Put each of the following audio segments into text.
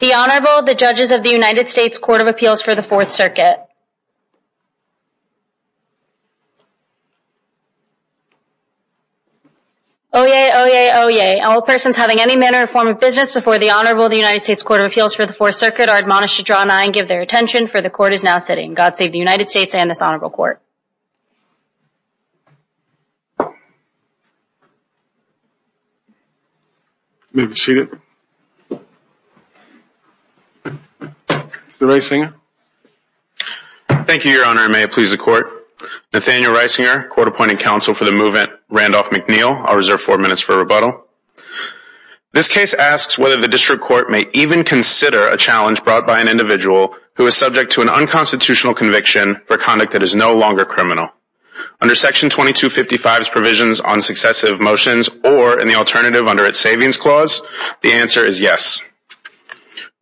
The Honorable, the Judges of the United States Court of Appeals for the Fourth Circuit. Oyez, oyez, oyez, all persons having any manner or form of business before the Honorable of the United States Court of Appeals for the Fourth Circuit are admonished to draw an eye and give their attention, for the Court is now sitting. God save the United States and this Honorable Court. Mr. Reisinger Thank you, Your Honor, and may it please the Court. Nathaniel Reisinger, Court Appointing Counsel for the Movement, Randolph McNeill. I'll reserve four minutes for rebuttal. This case asks whether the District Court may even consider a challenge brought by an unconstitutional conviction for conduct that is no longer criminal. Under Section 2255's provisions on successive motions or in the alternative under its Savings Clause, the answer is yes.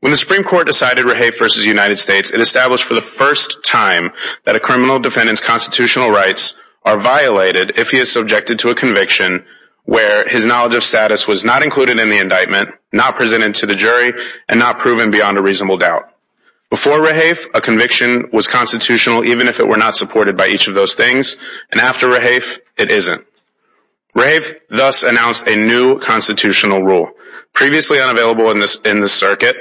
When the Supreme Court decided Rahaf v. United States, it established for the first time that a criminal defendant's constitutional rights are violated if he is subjected to a conviction where his knowledge of status was not included in the indictment, not presented to the jury, and not proven beyond a reasonable doubt. Before Rahaf, a conviction was constitutional even if it were not supported by each of those things, and after Rahaf, it isn't. Rahaf thus announced a new constitutional rule, previously unavailable in the circuit,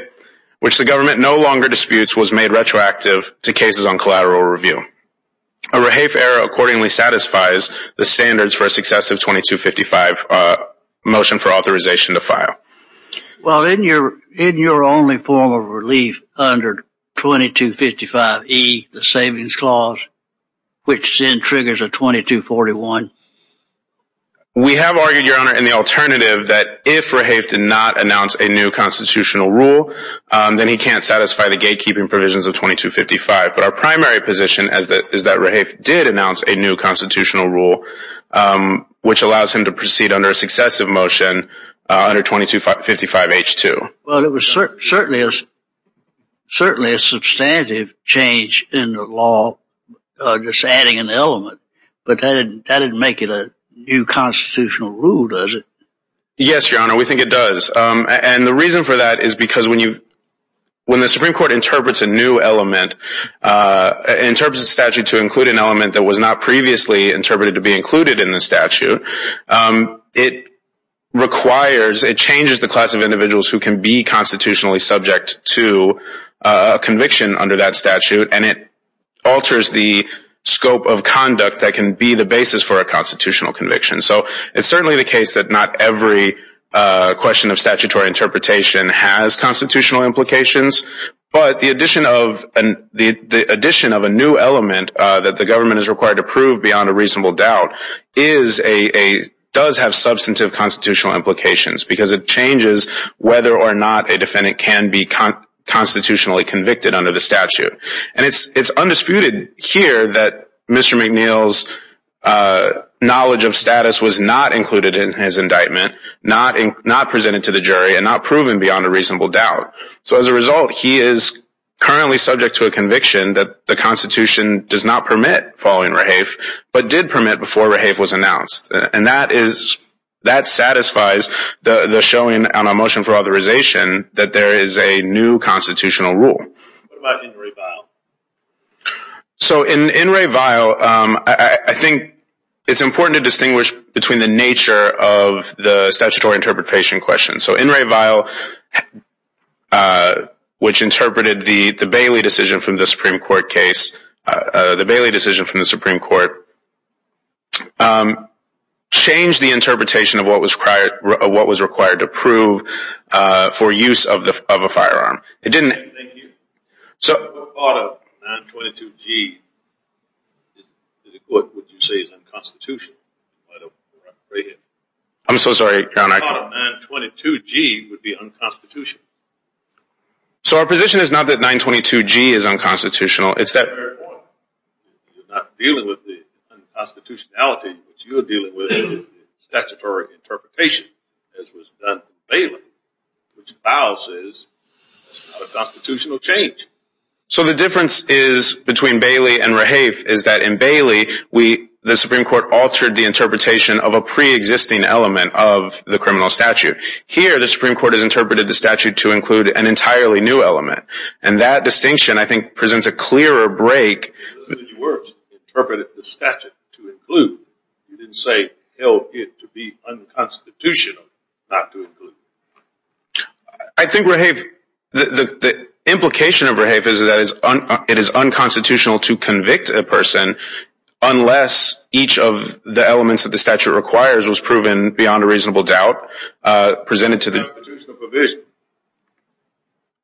which the government no longer disputes, was made retroactive to cases on collateral review. A Rahaf error accordingly satisfies the standards for a successive 2255 motion for authorization to file. Well, isn't your only form of relief under 2255E, the Savings Clause, which then triggers a 2241? We have argued, Your Honor, in the alternative that if Rahaf did not announce a new constitutional rule, then he can't satisfy the gatekeeping provisions of 2255, but our primary position is that Rahaf did announce a new constitutional rule which allows him to proceed under a successive motion under 2255H2. Well, it was certainly a substantive change in the law, just adding an element, but that didn't make it a new constitutional rule, does it? Yes, Your Honor, we think it does, and the reason for that is because when the Supreme Court interprets a new element, interprets a statute to include an element that was not requires, it changes the class of individuals who can be constitutionally subject to a conviction under that statute, and it alters the scope of conduct that can be the basis for a constitutional conviction. So, it's certainly the case that not every question of statutory interpretation has constitutional implications, but the addition of a new element that the government is required to prove beyond a reasonable doubt does have substantive constitutional implications, because it changes whether or not a defendant can be constitutionally convicted under the statute, and it's undisputed here that Mr. McNeil's knowledge of status was not included in his indictment, not presented to the jury, and not proven beyond a reasonable doubt, so as a result, he is currently subject to a conviction that the Constitution does not permit following rehafe, but did permit before rehafe was announced, and that is, that satisfies the showing on a motion for authorization that there is a new constitutional rule. What about in re vial? So in re vial, I think it's important to distinguish between the nature of the statutory interpretation question, so in re vial, which interpreted the Bailey decision from the Supreme Court case, the Bailey decision from the Supreme Court, changed the interpretation of what was required to prove for use of a firearm, it didn't... Thank you, what part of 922G would you say is unconstitutional? I'm so sorry, I can't... 922G would be unconstitutional. So our position is not that 922G is unconstitutional, it's that... You're not dealing with the unconstitutionality, what you're dealing with is the statutory interpretation, as was done for Bailey, which vial says it's not a constitutional change. So the difference is, between Bailey and rehafe, is that in Bailey, the Supreme Court altered the interpretation of a pre-existing element of the criminal statute. Here, the Supreme Court has interpreted the statute to include an entirely new element, and that distinction, I think, presents a clearer break... You interpreted the statute to include, you didn't say, held it to be unconstitutional not to include. I think rehafe, the implication of rehafe is that it is unconstitutional to convict a person unless each of the elements that the statute requires was proven beyond a reasonable doubt, presented to the... Unconstitutional provision.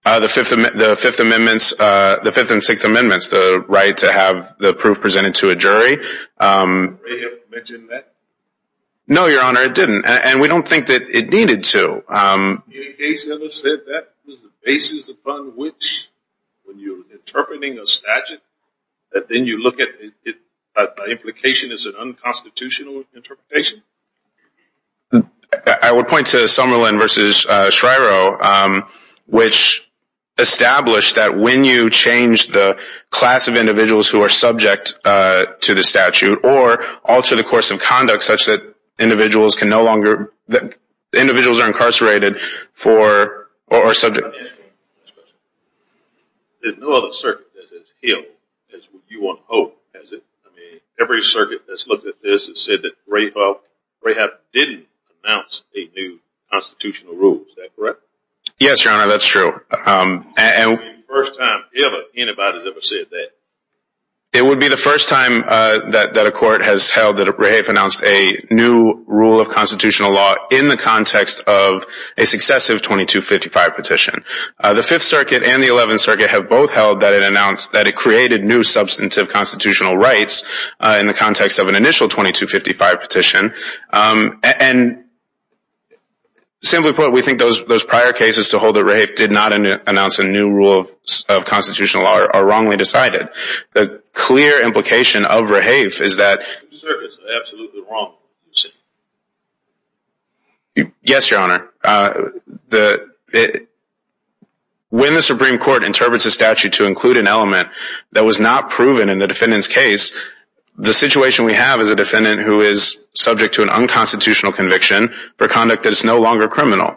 The 5th and 6th Amendments, the right to have the proof presented to a jury... Rehafe mentioned that? No, Your Honor, it didn't. And we don't think that it needed to. You said that was the basis upon which, when you're interpreting a statute, that then you look at the implication as an unconstitutional interpretation? I would point to Summerlin v. Shryo, which established that when you change the class of individuals who are subject to the statute, or alter the course of conduct such that individuals can no longer... Individuals are incarcerated for, or are subject... Let me ask you one last question. There's no other circuit that's as ill as you want to hope, has it? I mean, every circuit that's looked at this has said that rehafe didn't announce a new constitutional rule. Is that correct? Yes, Your Honor, that's true. It would be the first time anybody's ever said that. It would be the first time that a court has held that rehafe announced a new rule of constitutional law in the context of a successive 2255 petition. The 5th Circuit and the 11th Circuit have both held that it announced that it created new substantive constitutional rights in the context of an initial 2255 petition. And simply put, we think those prior cases to hold that rehafe did not announce a new rule of constitutional law are wrongly decided. The clear implication of rehafe is that... The circuit's absolutely wrong. Yes, Your Honor. When the Supreme Court interprets a statute to include an element that was not proven in the defendant's case, the situation we have is a defendant who is subject to an unconstitutional conviction for conduct that is no longer criminal.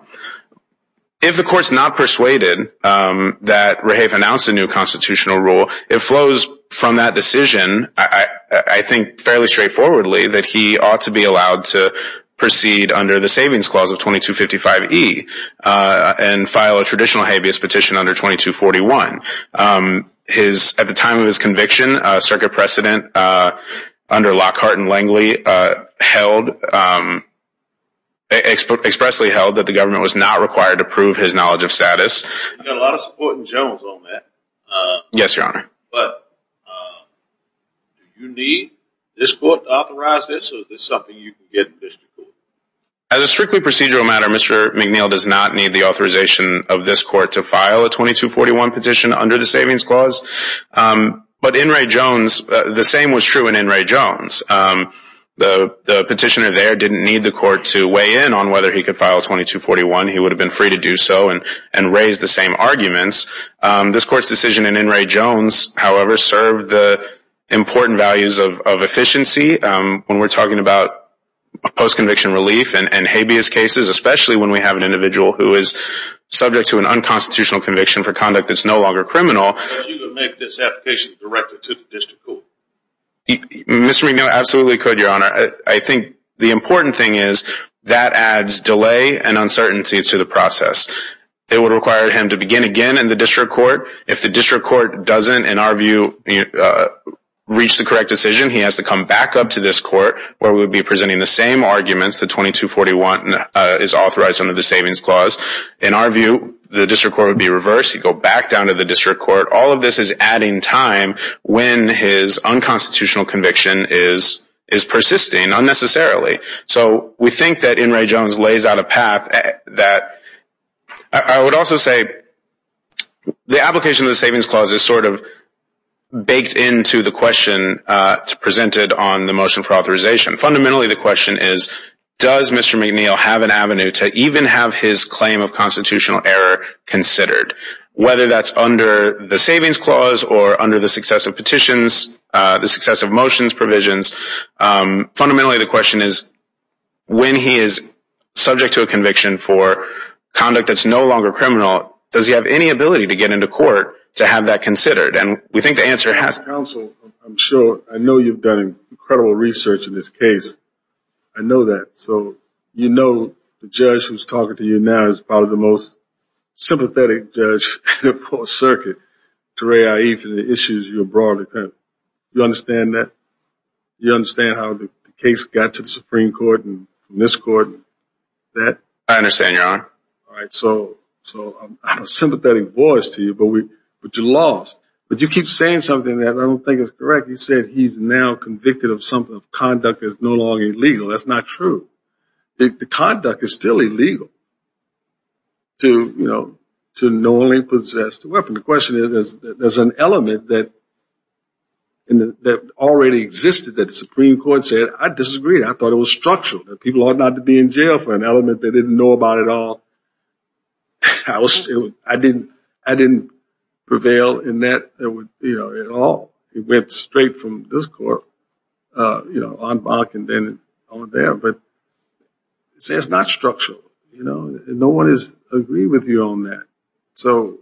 If the court's not persuaded that rehafe announced a new constitutional rule, it flows from that decision, I think fairly straightforwardly, that he ought to be allowed to proceed under the Savings Clause of 2255e and file a traditional habeas petition under 2241. At the time of his conviction, Circuit Precedent under Lockhart and Langley expressly held that the government was not required to prove his knowledge of status. You've got a lot of support in Jones on that. Yes, Your Honor. Do you need this court to authorize this or is this something you can get in District Court? As a strictly procedural matter, Mr. McNeil does not need the authorization of this court to file a 2241 petition under the Savings Clause. But in Ray Jones, the same was true in Ray Jones. The petitioner there didn't need the court to weigh in on whether he could file 2241. He would have been free to do so and raise the same arguments. This court's decision in Ray Jones, however, served the important values of efficiency. When we're talking about post-conviction relief and habeas cases, especially when we have an unconstitutional conviction for conduct that's no longer criminal. Would you make this application directed to the District Court? Mr. McNeil absolutely could, Your Honor. I think the important thing is that adds delay and uncertainty to the process. It would require him to begin again in the District Court. If the District Court doesn't, in our view, reach the correct decision, he has to come back up to this court where we would be presenting the same arguments that 2241 is authorized under the Savings Clause. In our view, the District Court would be reversed. He'd go back down to the District Court. All of this is adding time when his unconstitutional conviction is persisting unnecessarily. So we think that in Ray Jones lays out a path that I would also say the application of the Savings Clause is sort of baked into the question presented on the motion for authorization. Fundamentally, the question is, does Mr. McNeil have an avenue to even have his claim of constitutional error considered? Whether that's under the Savings Clause or under the successive petitions, the successive motions provisions, fundamentally the question is, when he is subject to a conviction for conduct that's no longer criminal, does he have any ability to get into court to have that considered? As counsel, I'm sure I know you've done incredible research in this case. I know that. So you know the judge who's talking to you now is probably the most sympathetic judge in the 4th Circuit to Ray Eiff and the issues you brought. Do you understand that? Do you understand how the case got to the Supreme Court and this court and that? I understand, Your Honor. So I'm a sympathetic voice to you, but you lost. But you keep saying something that I don't think is correct. You said he's now convicted of something of conduct that's no longer illegal. That's not true. The conduct is still illegal to knowingly possess the weapon. The question is, there's an element that already existed that the Supreme Court said, I disagreed. I thought it was structural. People ought not to be in jail for an element they didn't know about at all. I didn't prevail in that at all. It went straight from this court on Bach and then on there. But it's not structural. No one has agreed with you on that. So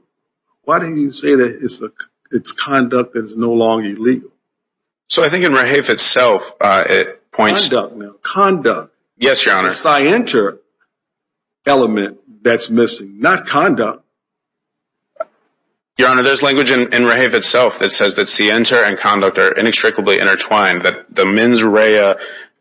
why do you say that it's conduct that is no longer illegal? So I think in Rahaf itself, it points... Conduct. Yes, Your Honor. Sienter element that's missing. Not conduct. Your Honor, there's language in Rahaf itself that says that sienter and conduct are inextricably intertwined. That the mens rea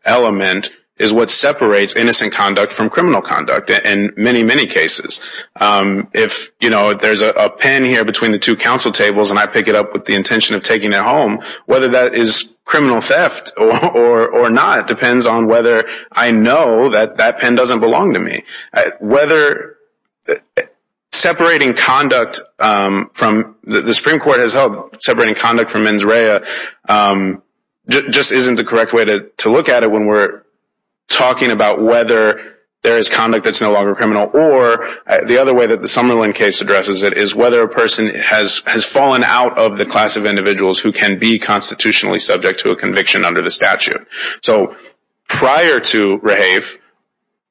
element is what separates innocent conduct from criminal conduct in many, many cases. If there's a pen here between the two counsel tables and I pick it up with the intention of taking it home, whether that is criminal theft or not depends on whether I know that that pen doesn't belong to me. Whether separating conduct from... The Supreme Court has held separating conduct from mens rea just isn't the correct way to look at it when we're talking about whether there is conduct that's no longer criminal. Or the other way that the Summerlin case addresses it is whether a person has fallen out of the class of individuals who can be constitutionally subject to a conviction under the statute. So prior to Rahaf,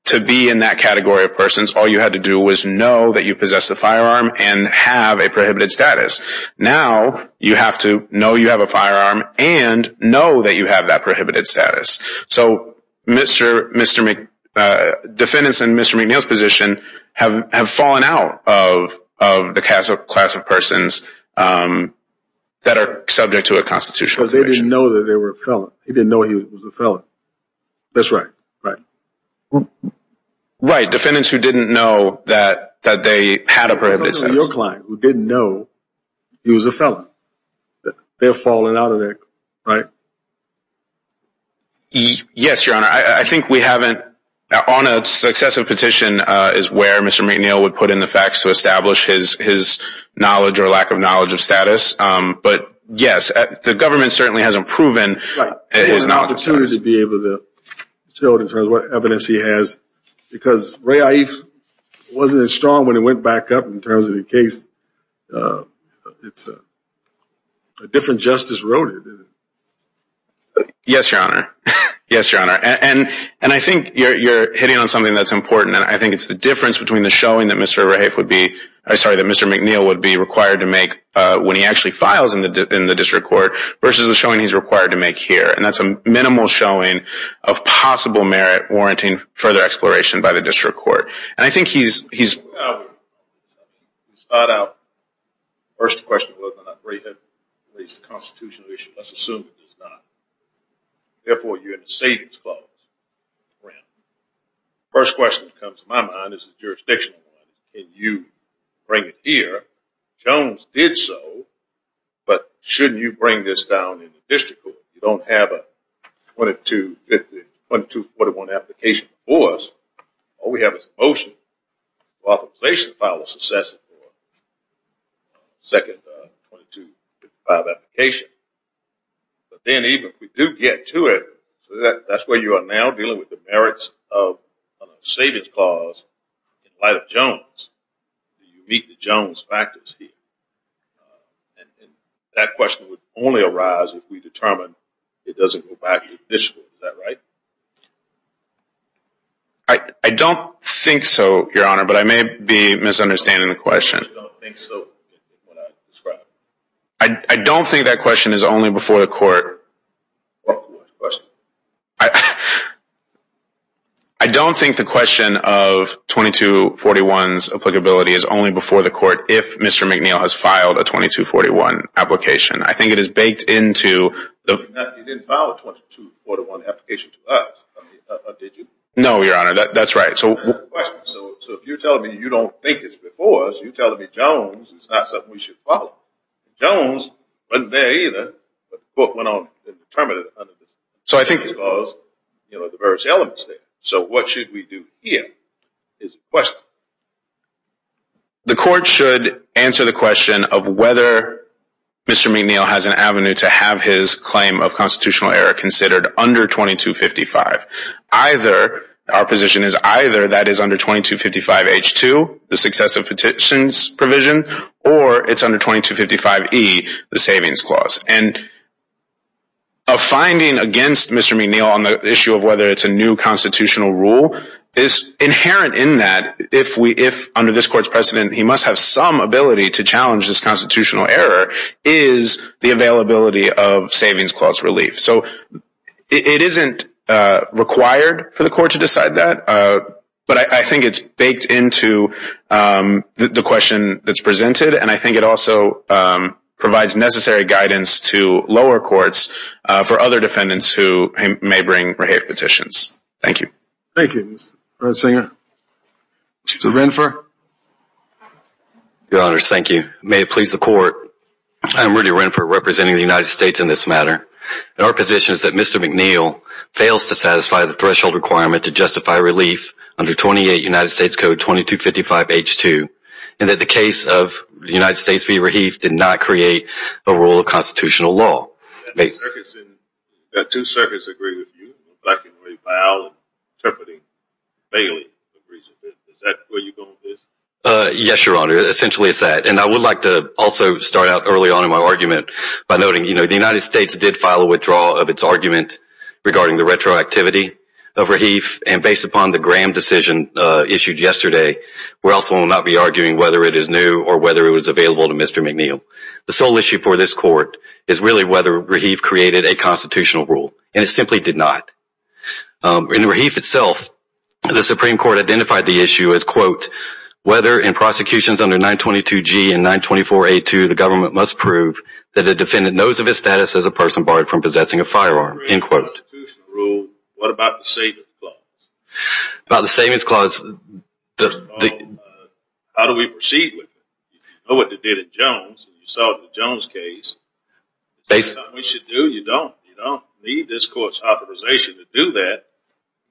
to be in that category of persons, all you had to do was know that you possessed a firearm and have a prohibited status. Now, you have to know you have a firearm and know that you have that prohibited status. So Mr. McNeil, defendants in Mr. McNeil's position have fallen out of the class of persons that are subject to a constitutional conviction. Because they didn't know that they were a felon. They didn't know he was a felon. That's right. Right. Defendants who didn't know that they had a prohibited status. Even your client who didn't know he was a felon. They've fallen out of that. Right? Yes, Your Honor. I think we haven't... On a successive petition is where Mr. McNeil would put in the facts to establish his knowledge or lack of knowledge of status. But yes, the government certainly hasn't proven... Right. There's an opportunity to be able to show it in terms of what evidence he has. Because Raif wasn't as strong when it went back up in terms of the case. It's a different justice road. Yes, Your Honor. Yes, Your Honor. And I think you're hitting on something that's important. I think it's the difference between the showing that Mr. Raif would be... I'm sorry, that Mr. McNeil would be required to make when he actually files in the district court versus the showing he's required to make here. And that's a minimal showing of possible merit warranting further exploration by the district court. And I think he's... First question was whether or not Raif had raised a constitutional issue. Let's assume he does not. Therefore, you're in a savings clause. First question that comes to my mind is a jurisdictional one. And you bring it here. Jones did so, but shouldn't you bring this down in the district court? You don't have a 2241 application before us. All we have is a motion. Authorization file was assessed for the second 2255 application. But then even if we do get to it, that's where you are now dealing with the merits of a savings clause in light of Jones. You meet the Jones factors here. And that question would only arise if we determine it doesn't go back to the district court. Is that right? I don't think so, Your Honor, but I may be misunderstanding the question. You don't think so? I don't think that question is only before the court. What question? I don't think the question of 2241's applicability is only before the court if Mr. McNeil has filed a 2241 application. I think it is baked into... You didn't file a 2241 application to us, did you? No, Your Honor, that's right. So if you're telling me you don't think it's before us, you're telling me Jones is not something we should follow. Jones wasn't there either, but the court went on and determined it. So what should we do here is the question. The court should answer the question of whether Mr. McNeil has an avenue to have his claim of constitutional error considered under 2255. Our position is either that is under 2255H2, the successive petitions provision, or it's under 2255E, the savings clause. And a finding against Mr. McNeil on the issue of whether it's a new constitutional rule is inherent in that, if under this court's precedent he must have some ability to challenge this constitutional error, is the availability of savings clause relief. So it isn't required for the court to decide that, but I think it's baked into the question that's presented, and I think it also provides necessary guidance to lower courts for other defendants who may bring rehab petitions. Thank you. Thank you, Mr. Brunsinger. Mr. Renfer. Your Honors, thank you. May it please the court, I am Rudy Renfer, representing the United States in this matter. And our position is that Mr. McNeil fails to satisfy the threshold requirement to justify relief under 28 United States Code 2255H2, and that the case of the United States v. Raheef did not create a rule of constitutional law. That two circuits agree with you, black and red violence, interpreting vaguely, is that where you're going with this? Yes, Your Honor, essentially it's that. And I would like to also start out early on in my argument by noting, you know, the United States did file a withdrawal of its argument regarding the retroactivity of Raheef, and based upon the Graham decision issued yesterday, we also will not be arguing whether it is new or whether it was available to Mr. McNeil. The sole issue for this court is really whether Raheef created a constitutional rule, and it simply did not. In Raheef itself, the Supreme Court identified the issue as, quote, whether in prosecutions under 922G and 924A2 the government must prove that a defendant knows of his status as a person barred from possessing a firearm, end quote. What about the savings clause? About the savings clause. How do we proceed with it? You know what they did in Jones, you saw the Jones case. That's not what we should do. You don't need this court's authorization to do that.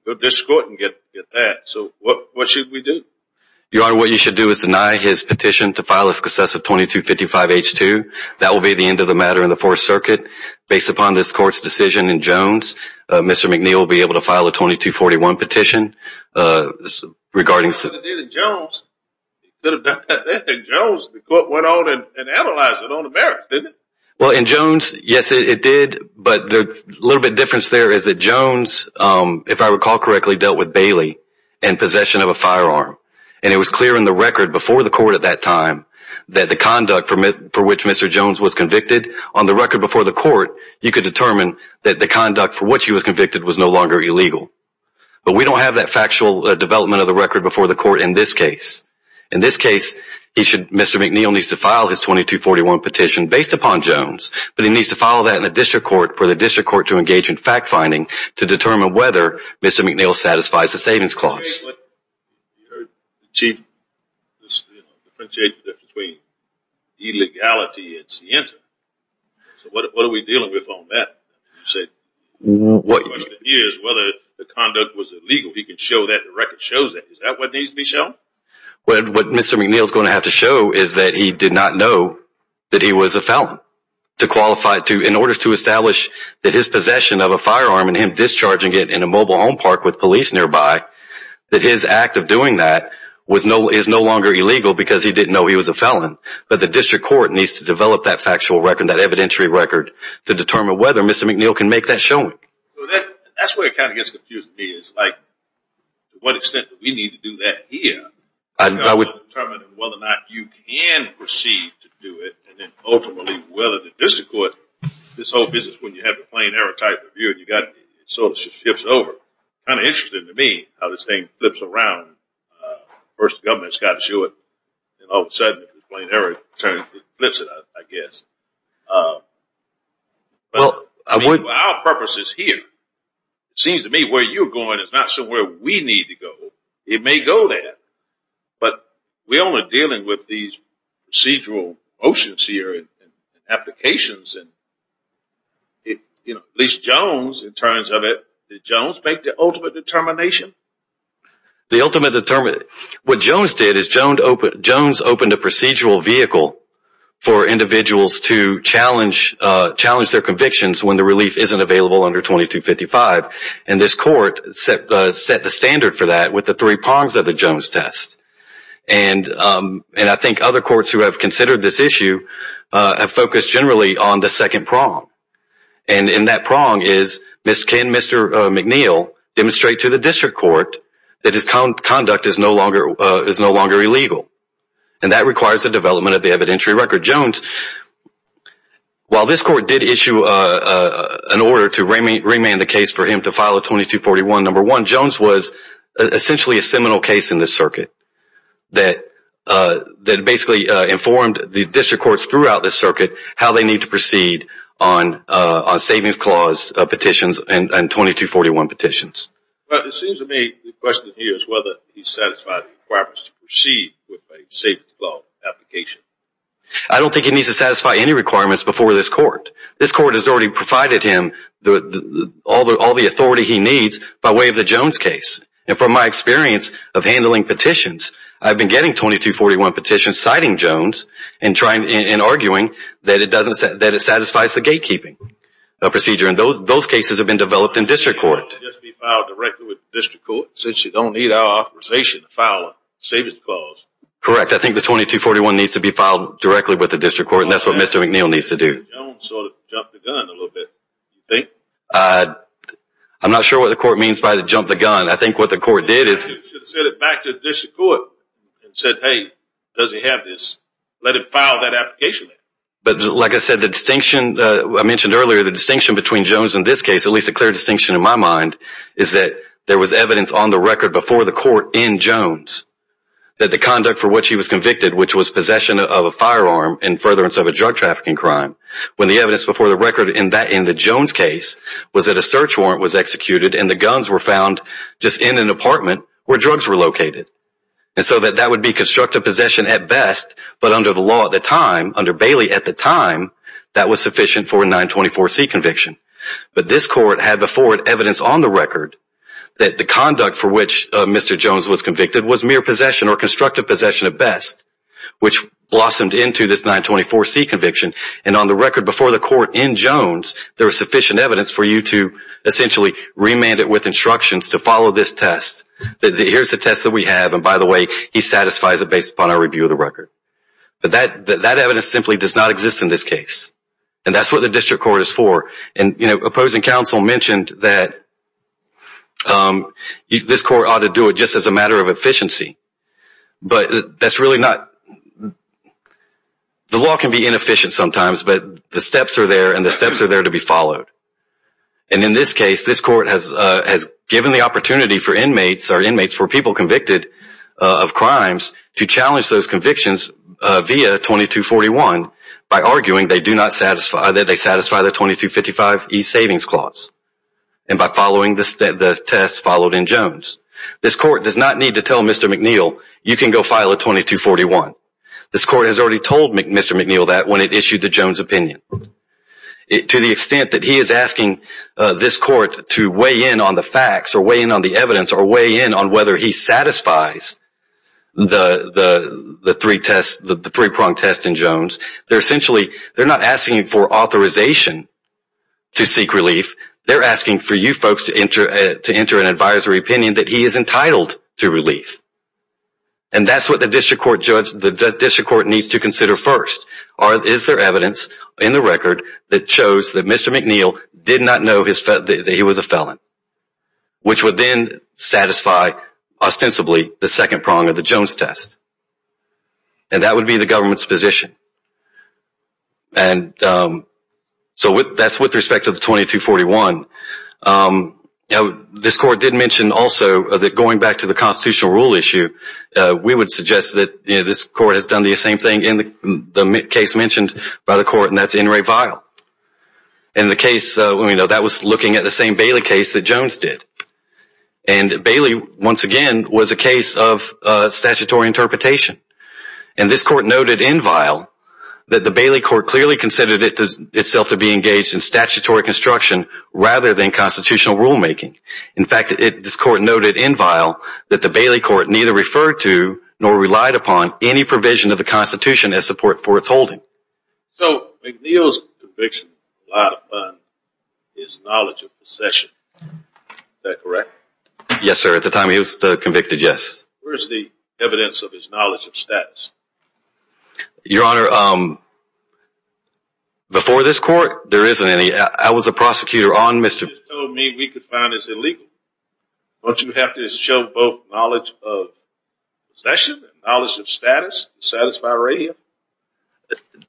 Go to this court and get that. So what should we do? Your Honor, what you should do is deny his petition to file a successive 2255H2. That will be the end of the matter in the Fourth Circuit. Based upon this court's decision in Jones, Mr. McNeil will be able to file a 2241 petition regarding... Jones, the court went on and analyzed it on the merits, didn't it? Well, in Jones, yes, it did. But the little bit difference there is that Jones, if I recall correctly, dealt with Bailey in possession of a firearm. And it was clear in the record before the court at that time that the conduct for which Mr. Jones was convicted on the record before the court, you could determine that the conduct for which he was convicted was no longer illegal. But we don't have that factual development of the record before the court in this case. In this case, Mr. McNeil needs to file his 2241 petition based upon Jones, but he needs to file that in the district court for the district court to engage in fact-finding to determine whether Mr. McNeil satisfies the savings clause. You heard the Chief differentiate between illegality and scientific. So what are we dealing with on that? The question is whether the conduct was illegal. He can show that the record shows that. Is that what needs to be shown? What Mr. McNeil is going to have to show is that he did not know that he was a felon. In order to establish that his possession of a firearm and him discharging it in a mobile home park with police nearby, that his act of doing that is no longer illegal because he didn't know he was a felon. But the district court needs to develop that factual record, that evidentiary record, to determine whether Mr. McNeil can make that showing. That's where it kind of gets confusing to me. It's like to what extent do we need to do that here in order to determine whether or not you can proceed to do it and then ultimately whether the district court, this whole business, when you have the plain error type of view, it sort of shifts over. It's kind of interesting to me how this thing flips around. First, the government's got to show it. All of a sudden, if it's plain error, it flips it, I guess. Our purpose is here. It seems to me where you're going is not somewhere we need to go. It may go there. But we're only dealing with these procedural motions here and applications. At least Jones, in terms of it, did Jones make the ultimate determination? The ultimate determination? What Jones did is Jones opened a procedural vehicle for individuals to challenge their convictions when the relief isn't available under 2255. This court set the standard for that with the three prongs of the Jones test. I think other courts who have considered this issue have focused generally on the second prong. And in that prong is can Mr. McNeil demonstrate to the district court that his conduct is no longer illegal? And that requires the development of the evidentiary record. Jones, while this court did issue an order to remand the case for him to file a 2241, number one, Jones was essentially a seminal case in this circuit that basically informed the district courts throughout this circuit how they need to proceed on savings clause petitions and 2241 petitions. I don't think he needs to satisfy any requirements before this court. This court has already provided him all the authority he needs by way of the Jones case. And from my experience of handling petitions, I've been getting 2241 petitions citing Jones and arguing that it satisfies the gatekeeping procedure. And those cases have been developed in district court. Correct. I think the 2241 needs to be filed directly with the district court. And that's what Mr. McNeil needs to do. I'm not sure what the court means by the jump the gun. I think what the court did is But like I said, the distinction I mentioned earlier, the distinction between Jones in this case, at least a clear distinction in my mind, is that there was evidence on the record before the court in Jones that the conduct for which he was convicted, which was possession of a firearm and furtherance of a drug trafficking crime. When the evidence before the record in the Jones case was that a search warrant was executed and the guns were found just in an apartment where drugs were located. And so that would be constructive possession at best. But under the law at the time, under Bailey at the time, that was sufficient for a 924C conviction. But this court had before it evidence on the record that the conduct for which Mr. Jones was convicted was mere possession or constructive possession at best, which blossomed into this 924C conviction. And on the record before the court in Jones, there was sufficient evidence for you to essentially remand it with instructions to follow this test. Here's the test that we have. And by the way, he satisfies it based upon our review of the record. But that evidence simply does not exist in this case. And that's what the district court is for. And opposing counsel mentioned that this court ought to do it just as a matter of efficiency. But that's really not... The law can be inefficient sometimes, but the steps are there and the steps are there to be followed. And in this case, this court has given the opportunity for inmates or inmates for people convicted of crimes to challenge those convictions via 2241 by arguing that they satisfy the 2255E savings clause. And by following the test followed in Jones. This court does not need to tell Mr. McNeil, you can go file a 2241. This court has already told Mr. McNeil that when it issued the Jones opinion. To the extent that he is asking this court to weigh in on the facts or weigh in on the evidence or weigh in on whether he satisfies the three-pronged test in Jones, they're essentially not asking for authorization to seek relief. They're asking for you folks to enter an advisory opinion that he is entitled to relief. And that's what the district court needs to consider first. Is there evidence in the record that shows that Mr. McNeil did not know that he was a felon? Which would then satisfy, ostensibly, the second prong of the Jones test. And that would be the government's position. And so that's with respect to the 2241. This court did mention also that going back to the constitutional rule issue, we would suggest that this court has done the same thing in the case mentioned by the court, and that's N. Ray Vial. In the case, that was looking at the same Bailey case that Jones did. And Bailey, once again, was a case of statutory interpretation. And this court noted in Vial that the Bailey court clearly considered itself to be engaged in statutory construction rather than constitutional rulemaking. In fact, this court noted in Vial that the Bailey court neither referred to nor relied upon any provision of the Constitution as support for its holding. So McNeil's conviction relied upon his knowledge of possession. Is that correct? Yes, sir. At the time he was convicted, yes. Where's the evidence of his knowledge of status? Your Honor, before this court, there isn't any. I was a prosecutor on Mr. You just told me we could find this illegal. Don't you have to show both knowledge of possession and knowledge of status to satisfy radio?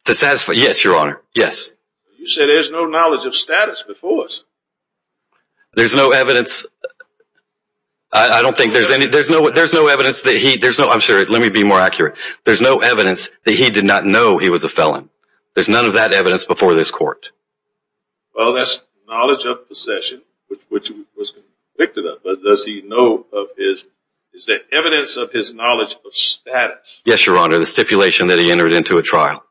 To satisfy, yes, Your Honor, yes. You said there's no knowledge of status before us. There's no evidence. I don't think there's any. There's no evidence that he. I'm sorry. Let me be more accurate. There's no evidence that he did not know he was a felon. There's none of that evidence before this court. Well, that's knowledge of possession, which he was convicted of. But does he know of his. Is there evidence of his knowledge of status? Yes, Your Honor, the stipulation that he entered into a trial.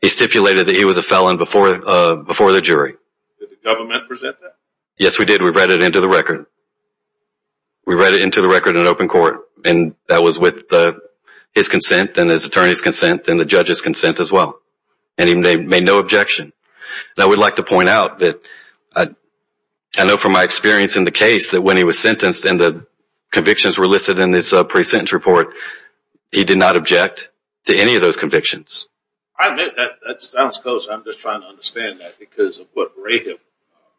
He stipulated that he was a felon before the jury. Did the government present that? Yes, we did. We read it into the record. We read it into the record in open court. And that was with his consent and his attorney's consent and the judge's consent as well. And he made no objection. Now, we'd like to point out that I know from my experience in the case that when he was sentenced and the convictions were listed in his pre-sentence report, he did not object to any of those convictions. I admit that. That sounds close. I'm just trying to understand that because of what Rahab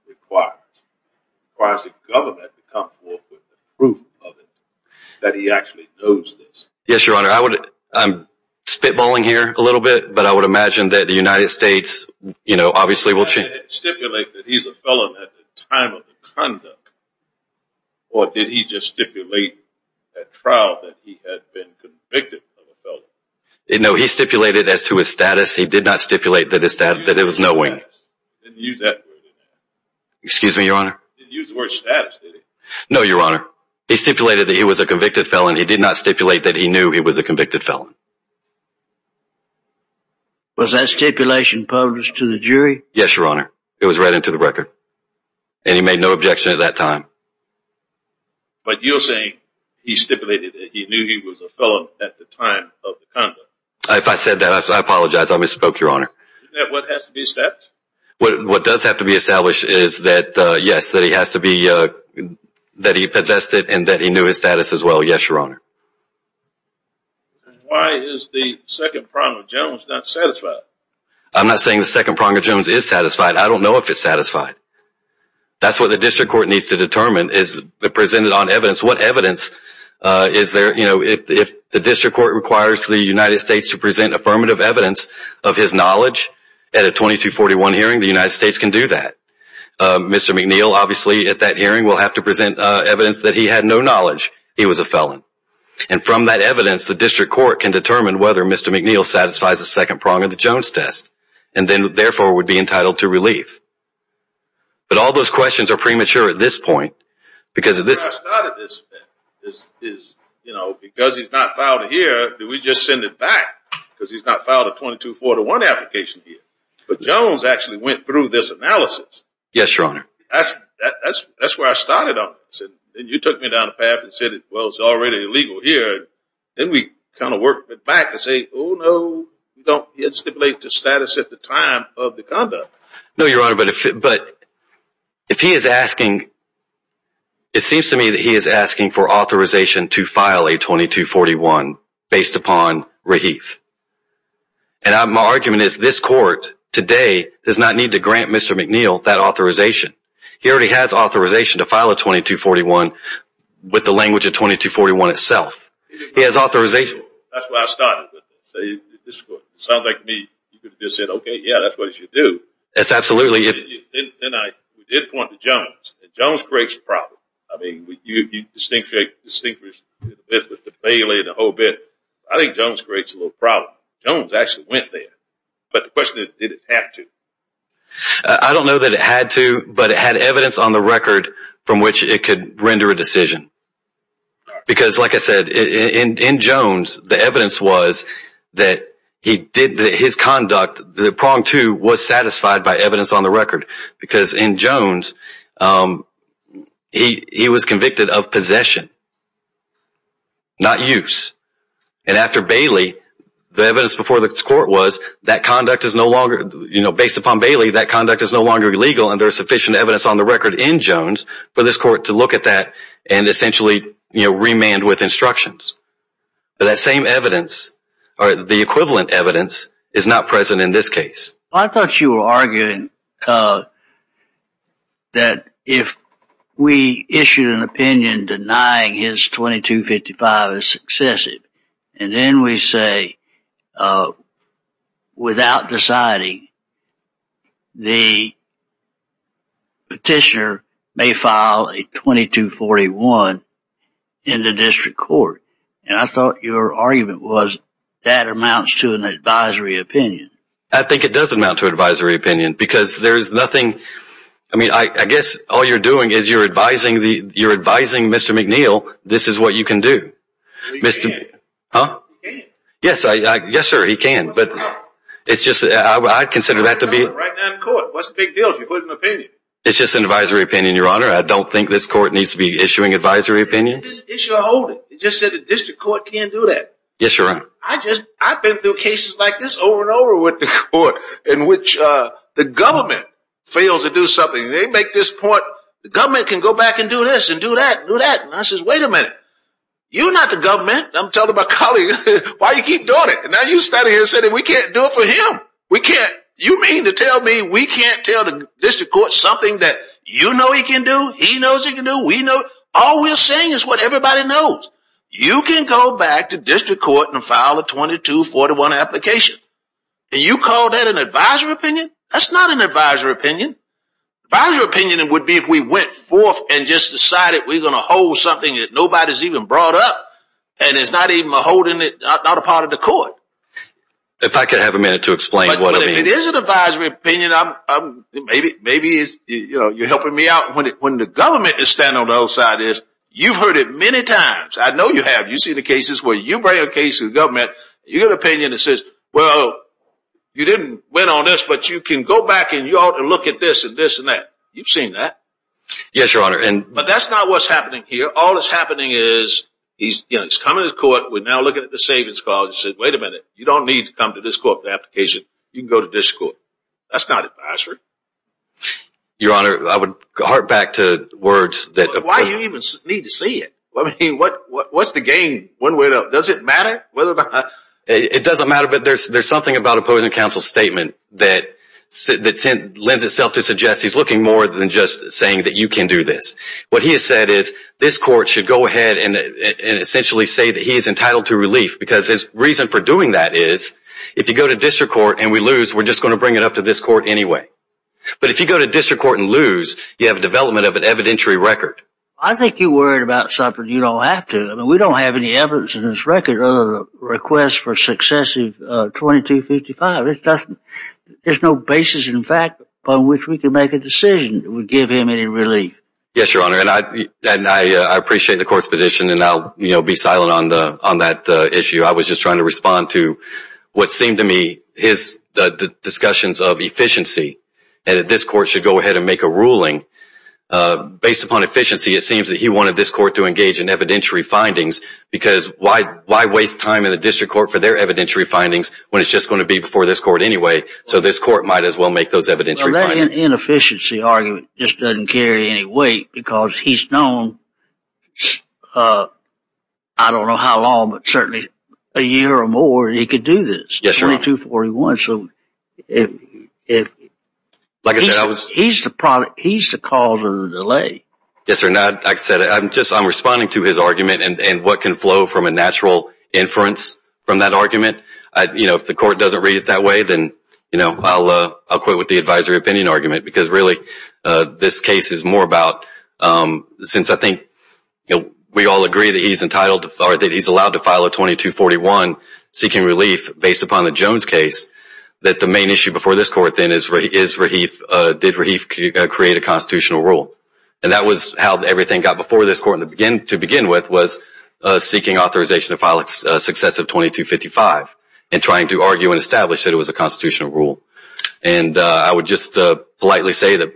requires. It requires the government to come forth with the proof of it that he actually knows this. Yes, Your Honor. I'm spitballing here a little bit. But I would imagine that the United States, you know, obviously will change. Did he stipulate that he's a felon at the time of the conduct? Or did he just stipulate at trial that he had been convicted of a felony? No, he stipulated as to his status. He did not stipulate that it was knowing. He didn't use that word. Excuse me, Your Honor? He didn't use the word status, did he? No, Your Honor. He stipulated that he was a convicted felon. He did not stipulate that he knew he was a convicted felon. Was that stipulation published to the jury? Yes, Your Honor. It was read into the record. And he made no objection at that time. But you're saying he stipulated that he knew he was a felon at the time of the conduct. If I said that, I apologize. I misspoke, Your Honor. Isn't that what has to be established? What does have to be established is that, yes, that he has to be, that he possessed it and that he knew his status as well. Yes, Your Honor. Why is the second prong of Jones not satisfied? I'm not saying the second prong of Jones is satisfied. I don't know if it's satisfied. That's what the district court needs to determine is presented on evidence. What evidence is there, you know, if the district court requires the United States to present affirmative evidence of his knowledge, at a 2241 hearing, the United States can do that. Mr. McNeil, obviously, at that hearing will have to present evidence that he had no knowledge he was a felon. And from that evidence, the district court can determine whether Mr. McNeil satisfies the second prong of the Jones test and then, therefore, would be entitled to relief. But all those questions are premature at this point because of this. Because he's not filed here, do we just send it back? Because he's not filed a 2241 application here. But Jones actually went through this analysis. Yes, Your Honor. That's where I started on this. And you took me down the path and said, well, it's already illegal here. Then we kind of work it back and say, oh, no, you don't stipulate the status at the time of the conduct. No, Your Honor. But if he is asking, it seems to me that he is asking for authorization to file a 2241 based upon relief. And my argument is this court today does not need to grant Mr. McNeil that authorization. He already has authorization to file a 2241 with the language of 2241 itself. He has authorization. That's where I started with this. It sounds like to me you could have just said, okay, yeah, that's what he should do. That's absolutely. Then I did point to Jones. And Jones creates a problem. I mean, you distinguish the bail and the whole bit. I think Jones creates a little problem. Jones actually went there. But the question is, did it have to? I don't know that it had to. But it had evidence on the record from which it could render a decision. Because, like I said, in Jones, the evidence was that he did his conduct. The prong, too, was satisfied by evidence on the record. Because in Jones, he was convicted of possession, not use. And after Bailey, the evidence before the court was that conduct is no longer, you know, based upon Bailey, that conduct is no longer legal and there is sufficient evidence on the record in Jones for this court to look at that and essentially, you know, remand with instructions. But that same evidence or the equivalent evidence is not present in this case. I thought you were arguing that if we issued an opinion denying his 2255 as successive and then we say without deciding, the petitioner may file a 2241 in the district court. And I thought your argument was that amounts to an advisory opinion. I think it does amount to an advisory opinion. Because there is nothing, I mean, I guess all you're doing is you're advising Mr. McNeil this is what you can do. He can. Huh? He can. Yes, sir, he can. But it's just, I consider that to be. Right now in court, what's the big deal if you put an opinion? It's just an advisory opinion, your honor. I don't think this court needs to be issuing advisory opinions. It should hold it. It just said the district court can't do that. Yes, you're right. I've been through cases like this over and over with the court in which the government fails to do something. They make this point, the government can go back and do this and do that and do that. And I says, wait a minute. You're not the government. I'm telling my colleague, why do you keep doing it? And now you're standing here saying that we can't do it for him. You mean to tell me we can't tell the district court something that you know he can do, he knows he can do, we know. All we're saying is what everybody knows. You can go back to district court and file a 2241 application. And you call that an advisory opinion? That's not an advisory opinion. Advisory opinion would be if we went forth and just decided we're going to hold something that nobody's even brought up. And it's not even holding it, not a part of the court. If I could have a minute to explain what I mean. It is an advisory opinion. Maybe you're helping me out. When the government is standing on the other side of this, you've heard it many times. I know you have. You've seen the cases where you bring a case to the government. You have an opinion that says, well, you didn't win on this, but you can go back and you ought to look at this and this and that. You've seen that. Yes, Your Honor. But that's not what's happening here. All that's happening is he's coming to court. We're now looking at the savings clause. He says, wait a minute. You don't need to come to this court for the application. You can go to district court. That's not advisory. Your Honor, I would harp back to words. Why do you even need to see it? What's the game one way or another? Does it matter? It doesn't matter. But there's something about opposing counsel's statement that lends itself to suggest he's looking more than just saying that you can do this. What he has said is this court should go ahead and essentially say that he is entitled to relief. Because his reason for doing that is if you go to district court and we lose, we're just going to bring it up to this court anyway. But if you go to district court and lose, you have a development of an evidentiary record. I think you're worried about something you don't have to. We don't have any evidence in this record other than a request for successive 2255. There's no basis in fact on which we can make a decision that would give him any relief. Yes, Your Honor. I appreciate the court's position and I'll be silent on that issue. I was just trying to respond to what seemed to me his discussions of efficiency and that this court should go ahead and make a ruling based upon efficiency. It seems that he wanted this court to engage in evidentiary findings because why waste time in the district court for their evidentiary findings when it's just going to be before this court anyway? So this court might as well make those evidentiary findings. His inefficiency argument just doesn't carry any weight because he's known, I don't know how long, but certainly a year or more that he could do this. Yes, Your Honor. 2241. He's the cause of the delay. Yes, Your Honor. I'm responding to his argument and what can flow from a natural inference from that argument. If the court doesn't read it that way, then I'll quit with the advisory opinion argument because really this case is more about, since I think we all agree that he's allowed to file a 2241 seeking relief based upon the Jones case, that the main issue before this court then is did Rahif create a constitutional rule? And that was how everything got before this court to begin with was seeking authorization to file successive 2255 and trying to argue and establish that it was a constitutional rule. And I would just politely say that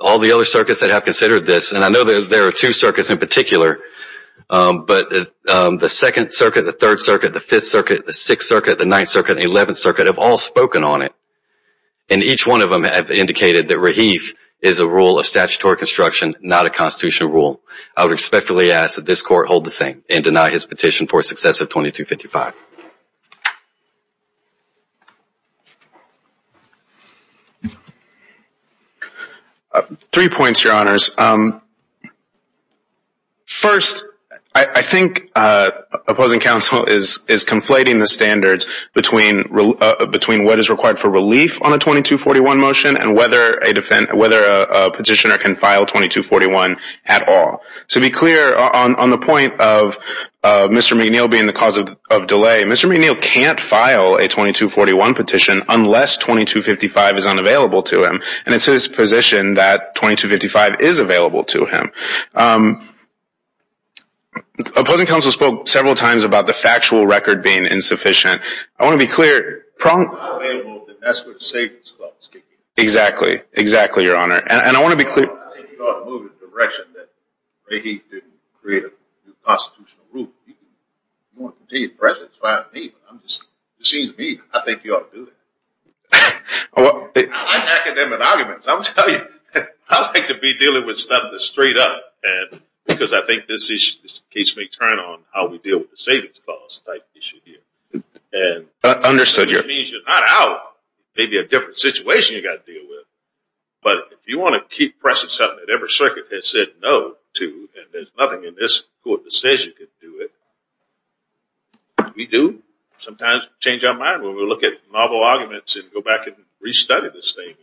all the other circuits that have considered this, and I know there are two circuits in particular, but the Second Circuit, the Third Circuit, the Fifth Circuit, the Sixth Circuit, the Ninth Circuit, the Eleventh Circuit have all spoken on it. And each one of them have indicated that Rahif is a rule of statutory construction, not a constitutional rule. I would respectfully ask that this court hold the same and deny his petition for successive 2255. First, I think opposing counsel is conflating the standards between what is required for relief on a 2241 motion and whether a petitioner can file 2241 at all. To be clear, on the point of Mr. McNeil being the cause of delay, Mr. McNeil can't file a 2241 petition unless 2255 is unavailable to him. And it's his position that 2255 is available to him. Opposing counsel spoke several times about the factual record being insufficient. I want to be clear. If it's not available, then that's where the savings comes from. Exactly. Exactly, Your Honor. And I want to be clear. I think you ought to move in the direction that Rahif didn't create a new constitutional rule. You want to continue to press it. It's fine with me, but it seems to me I think you ought to do that. I like academic arguments. I'll tell you, I like to be dealing with stuff that's straight up because I think this case may turn on how we deal with the savings cost type issue here. Understood, Your Honor. That means you're not out. Maybe a different situation you've got to deal with. But if you want to keep pressing something that every circuit has said no to, and there's nothing in this court that says you can do it, we do. Sometimes we change our mind when we look at novel arguments and go back and restudy this thing.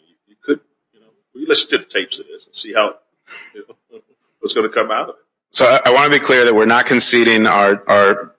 We listen to the tapes of this and see what's going to come out of it. So I want to be clear that we're not conceding our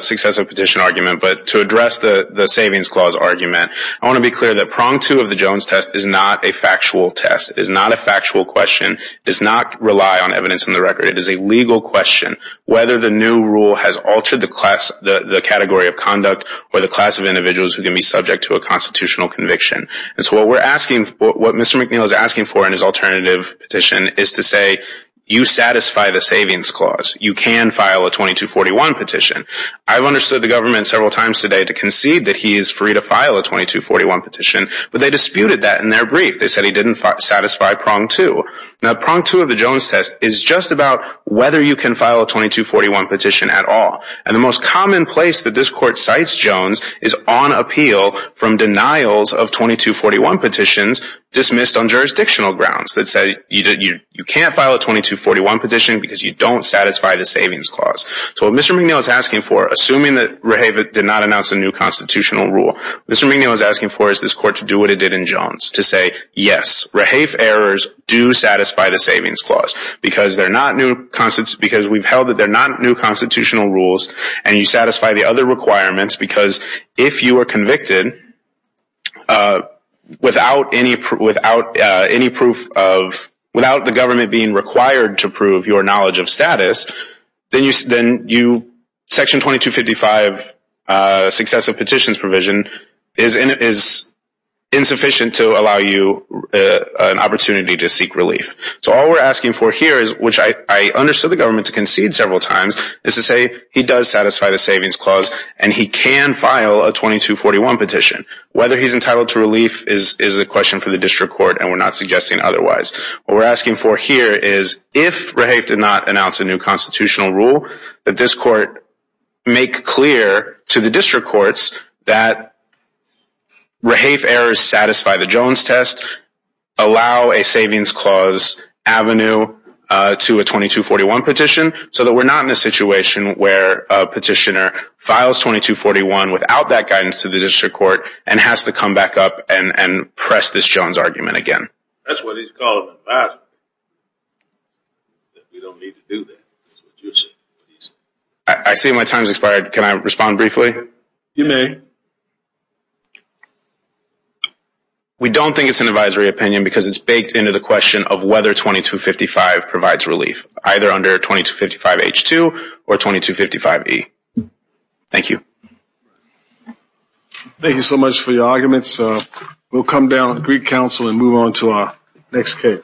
successive petition argument. But to address the savings clause argument, I want to be clear that prong two of the Jones test is not a factual test. It is not a factual question. It does not rely on evidence in the record. It is a legal question whether the new rule has altered the category of conduct or the class of individuals who can be subject to a constitutional conviction. And so what Mr. McNeil is asking for in his alternative petition is to say you satisfy the savings clause. You can file a 2241 petition. I've understood the government several times today to concede that he is free to file a 2241 petition, but they disputed that in their brief. They said he didn't satisfy prong two. Now, prong two of the Jones test is just about whether you can file a 2241 petition at all. And the most common place that this court cites Jones is on appeal from denials of 2241 petitions dismissed on jurisdictional grounds that say you can't file a 2241 petition because you don't satisfy the savings clause. So what Mr. McNeil is asking for, assuming that REHAVE did not announce a new constitutional rule, Mr. McNeil is asking for is this court to do what it did in Jones, to say yes, REHAVE errors do satisfy the savings clause. Because we've held that they're not new constitutional rules, and you satisfy the other requirements, because if you are convicted without the government being required to prove your knowledge of status, then section 2255 successive petitions provision is insufficient to allow you an opportunity to seek relief. So all we're asking for here is, which I understood the government to concede several times, is to say he does satisfy the savings clause, and he can file a 2241 petition. Whether he's entitled to relief is a question for the district court, and we're not suggesting otherwise. What we're asking for here is, if REHAVE did not announce a new constitutional rule, that this court make clear to the district courts that REHAVE errors satisfy the Jones test, allow a savings clause avenue to a 2241 petition, so that we're not in a situation where a petitioner files 2241 without that guidance to the district court and has to come back up and press this Jones argument again. That's what he's called an advisory. We don't need to do that. That's what you're saying. I see my time's expired. Can I respond briefly? You may. We don't think it's an advisory opinion because it's baked into the question of whether 2255 provides relief, either under 2255H2 or 2255E. Thank you. Thank you so much for your arguments. We'll come down and greet counsel and move on to our next case.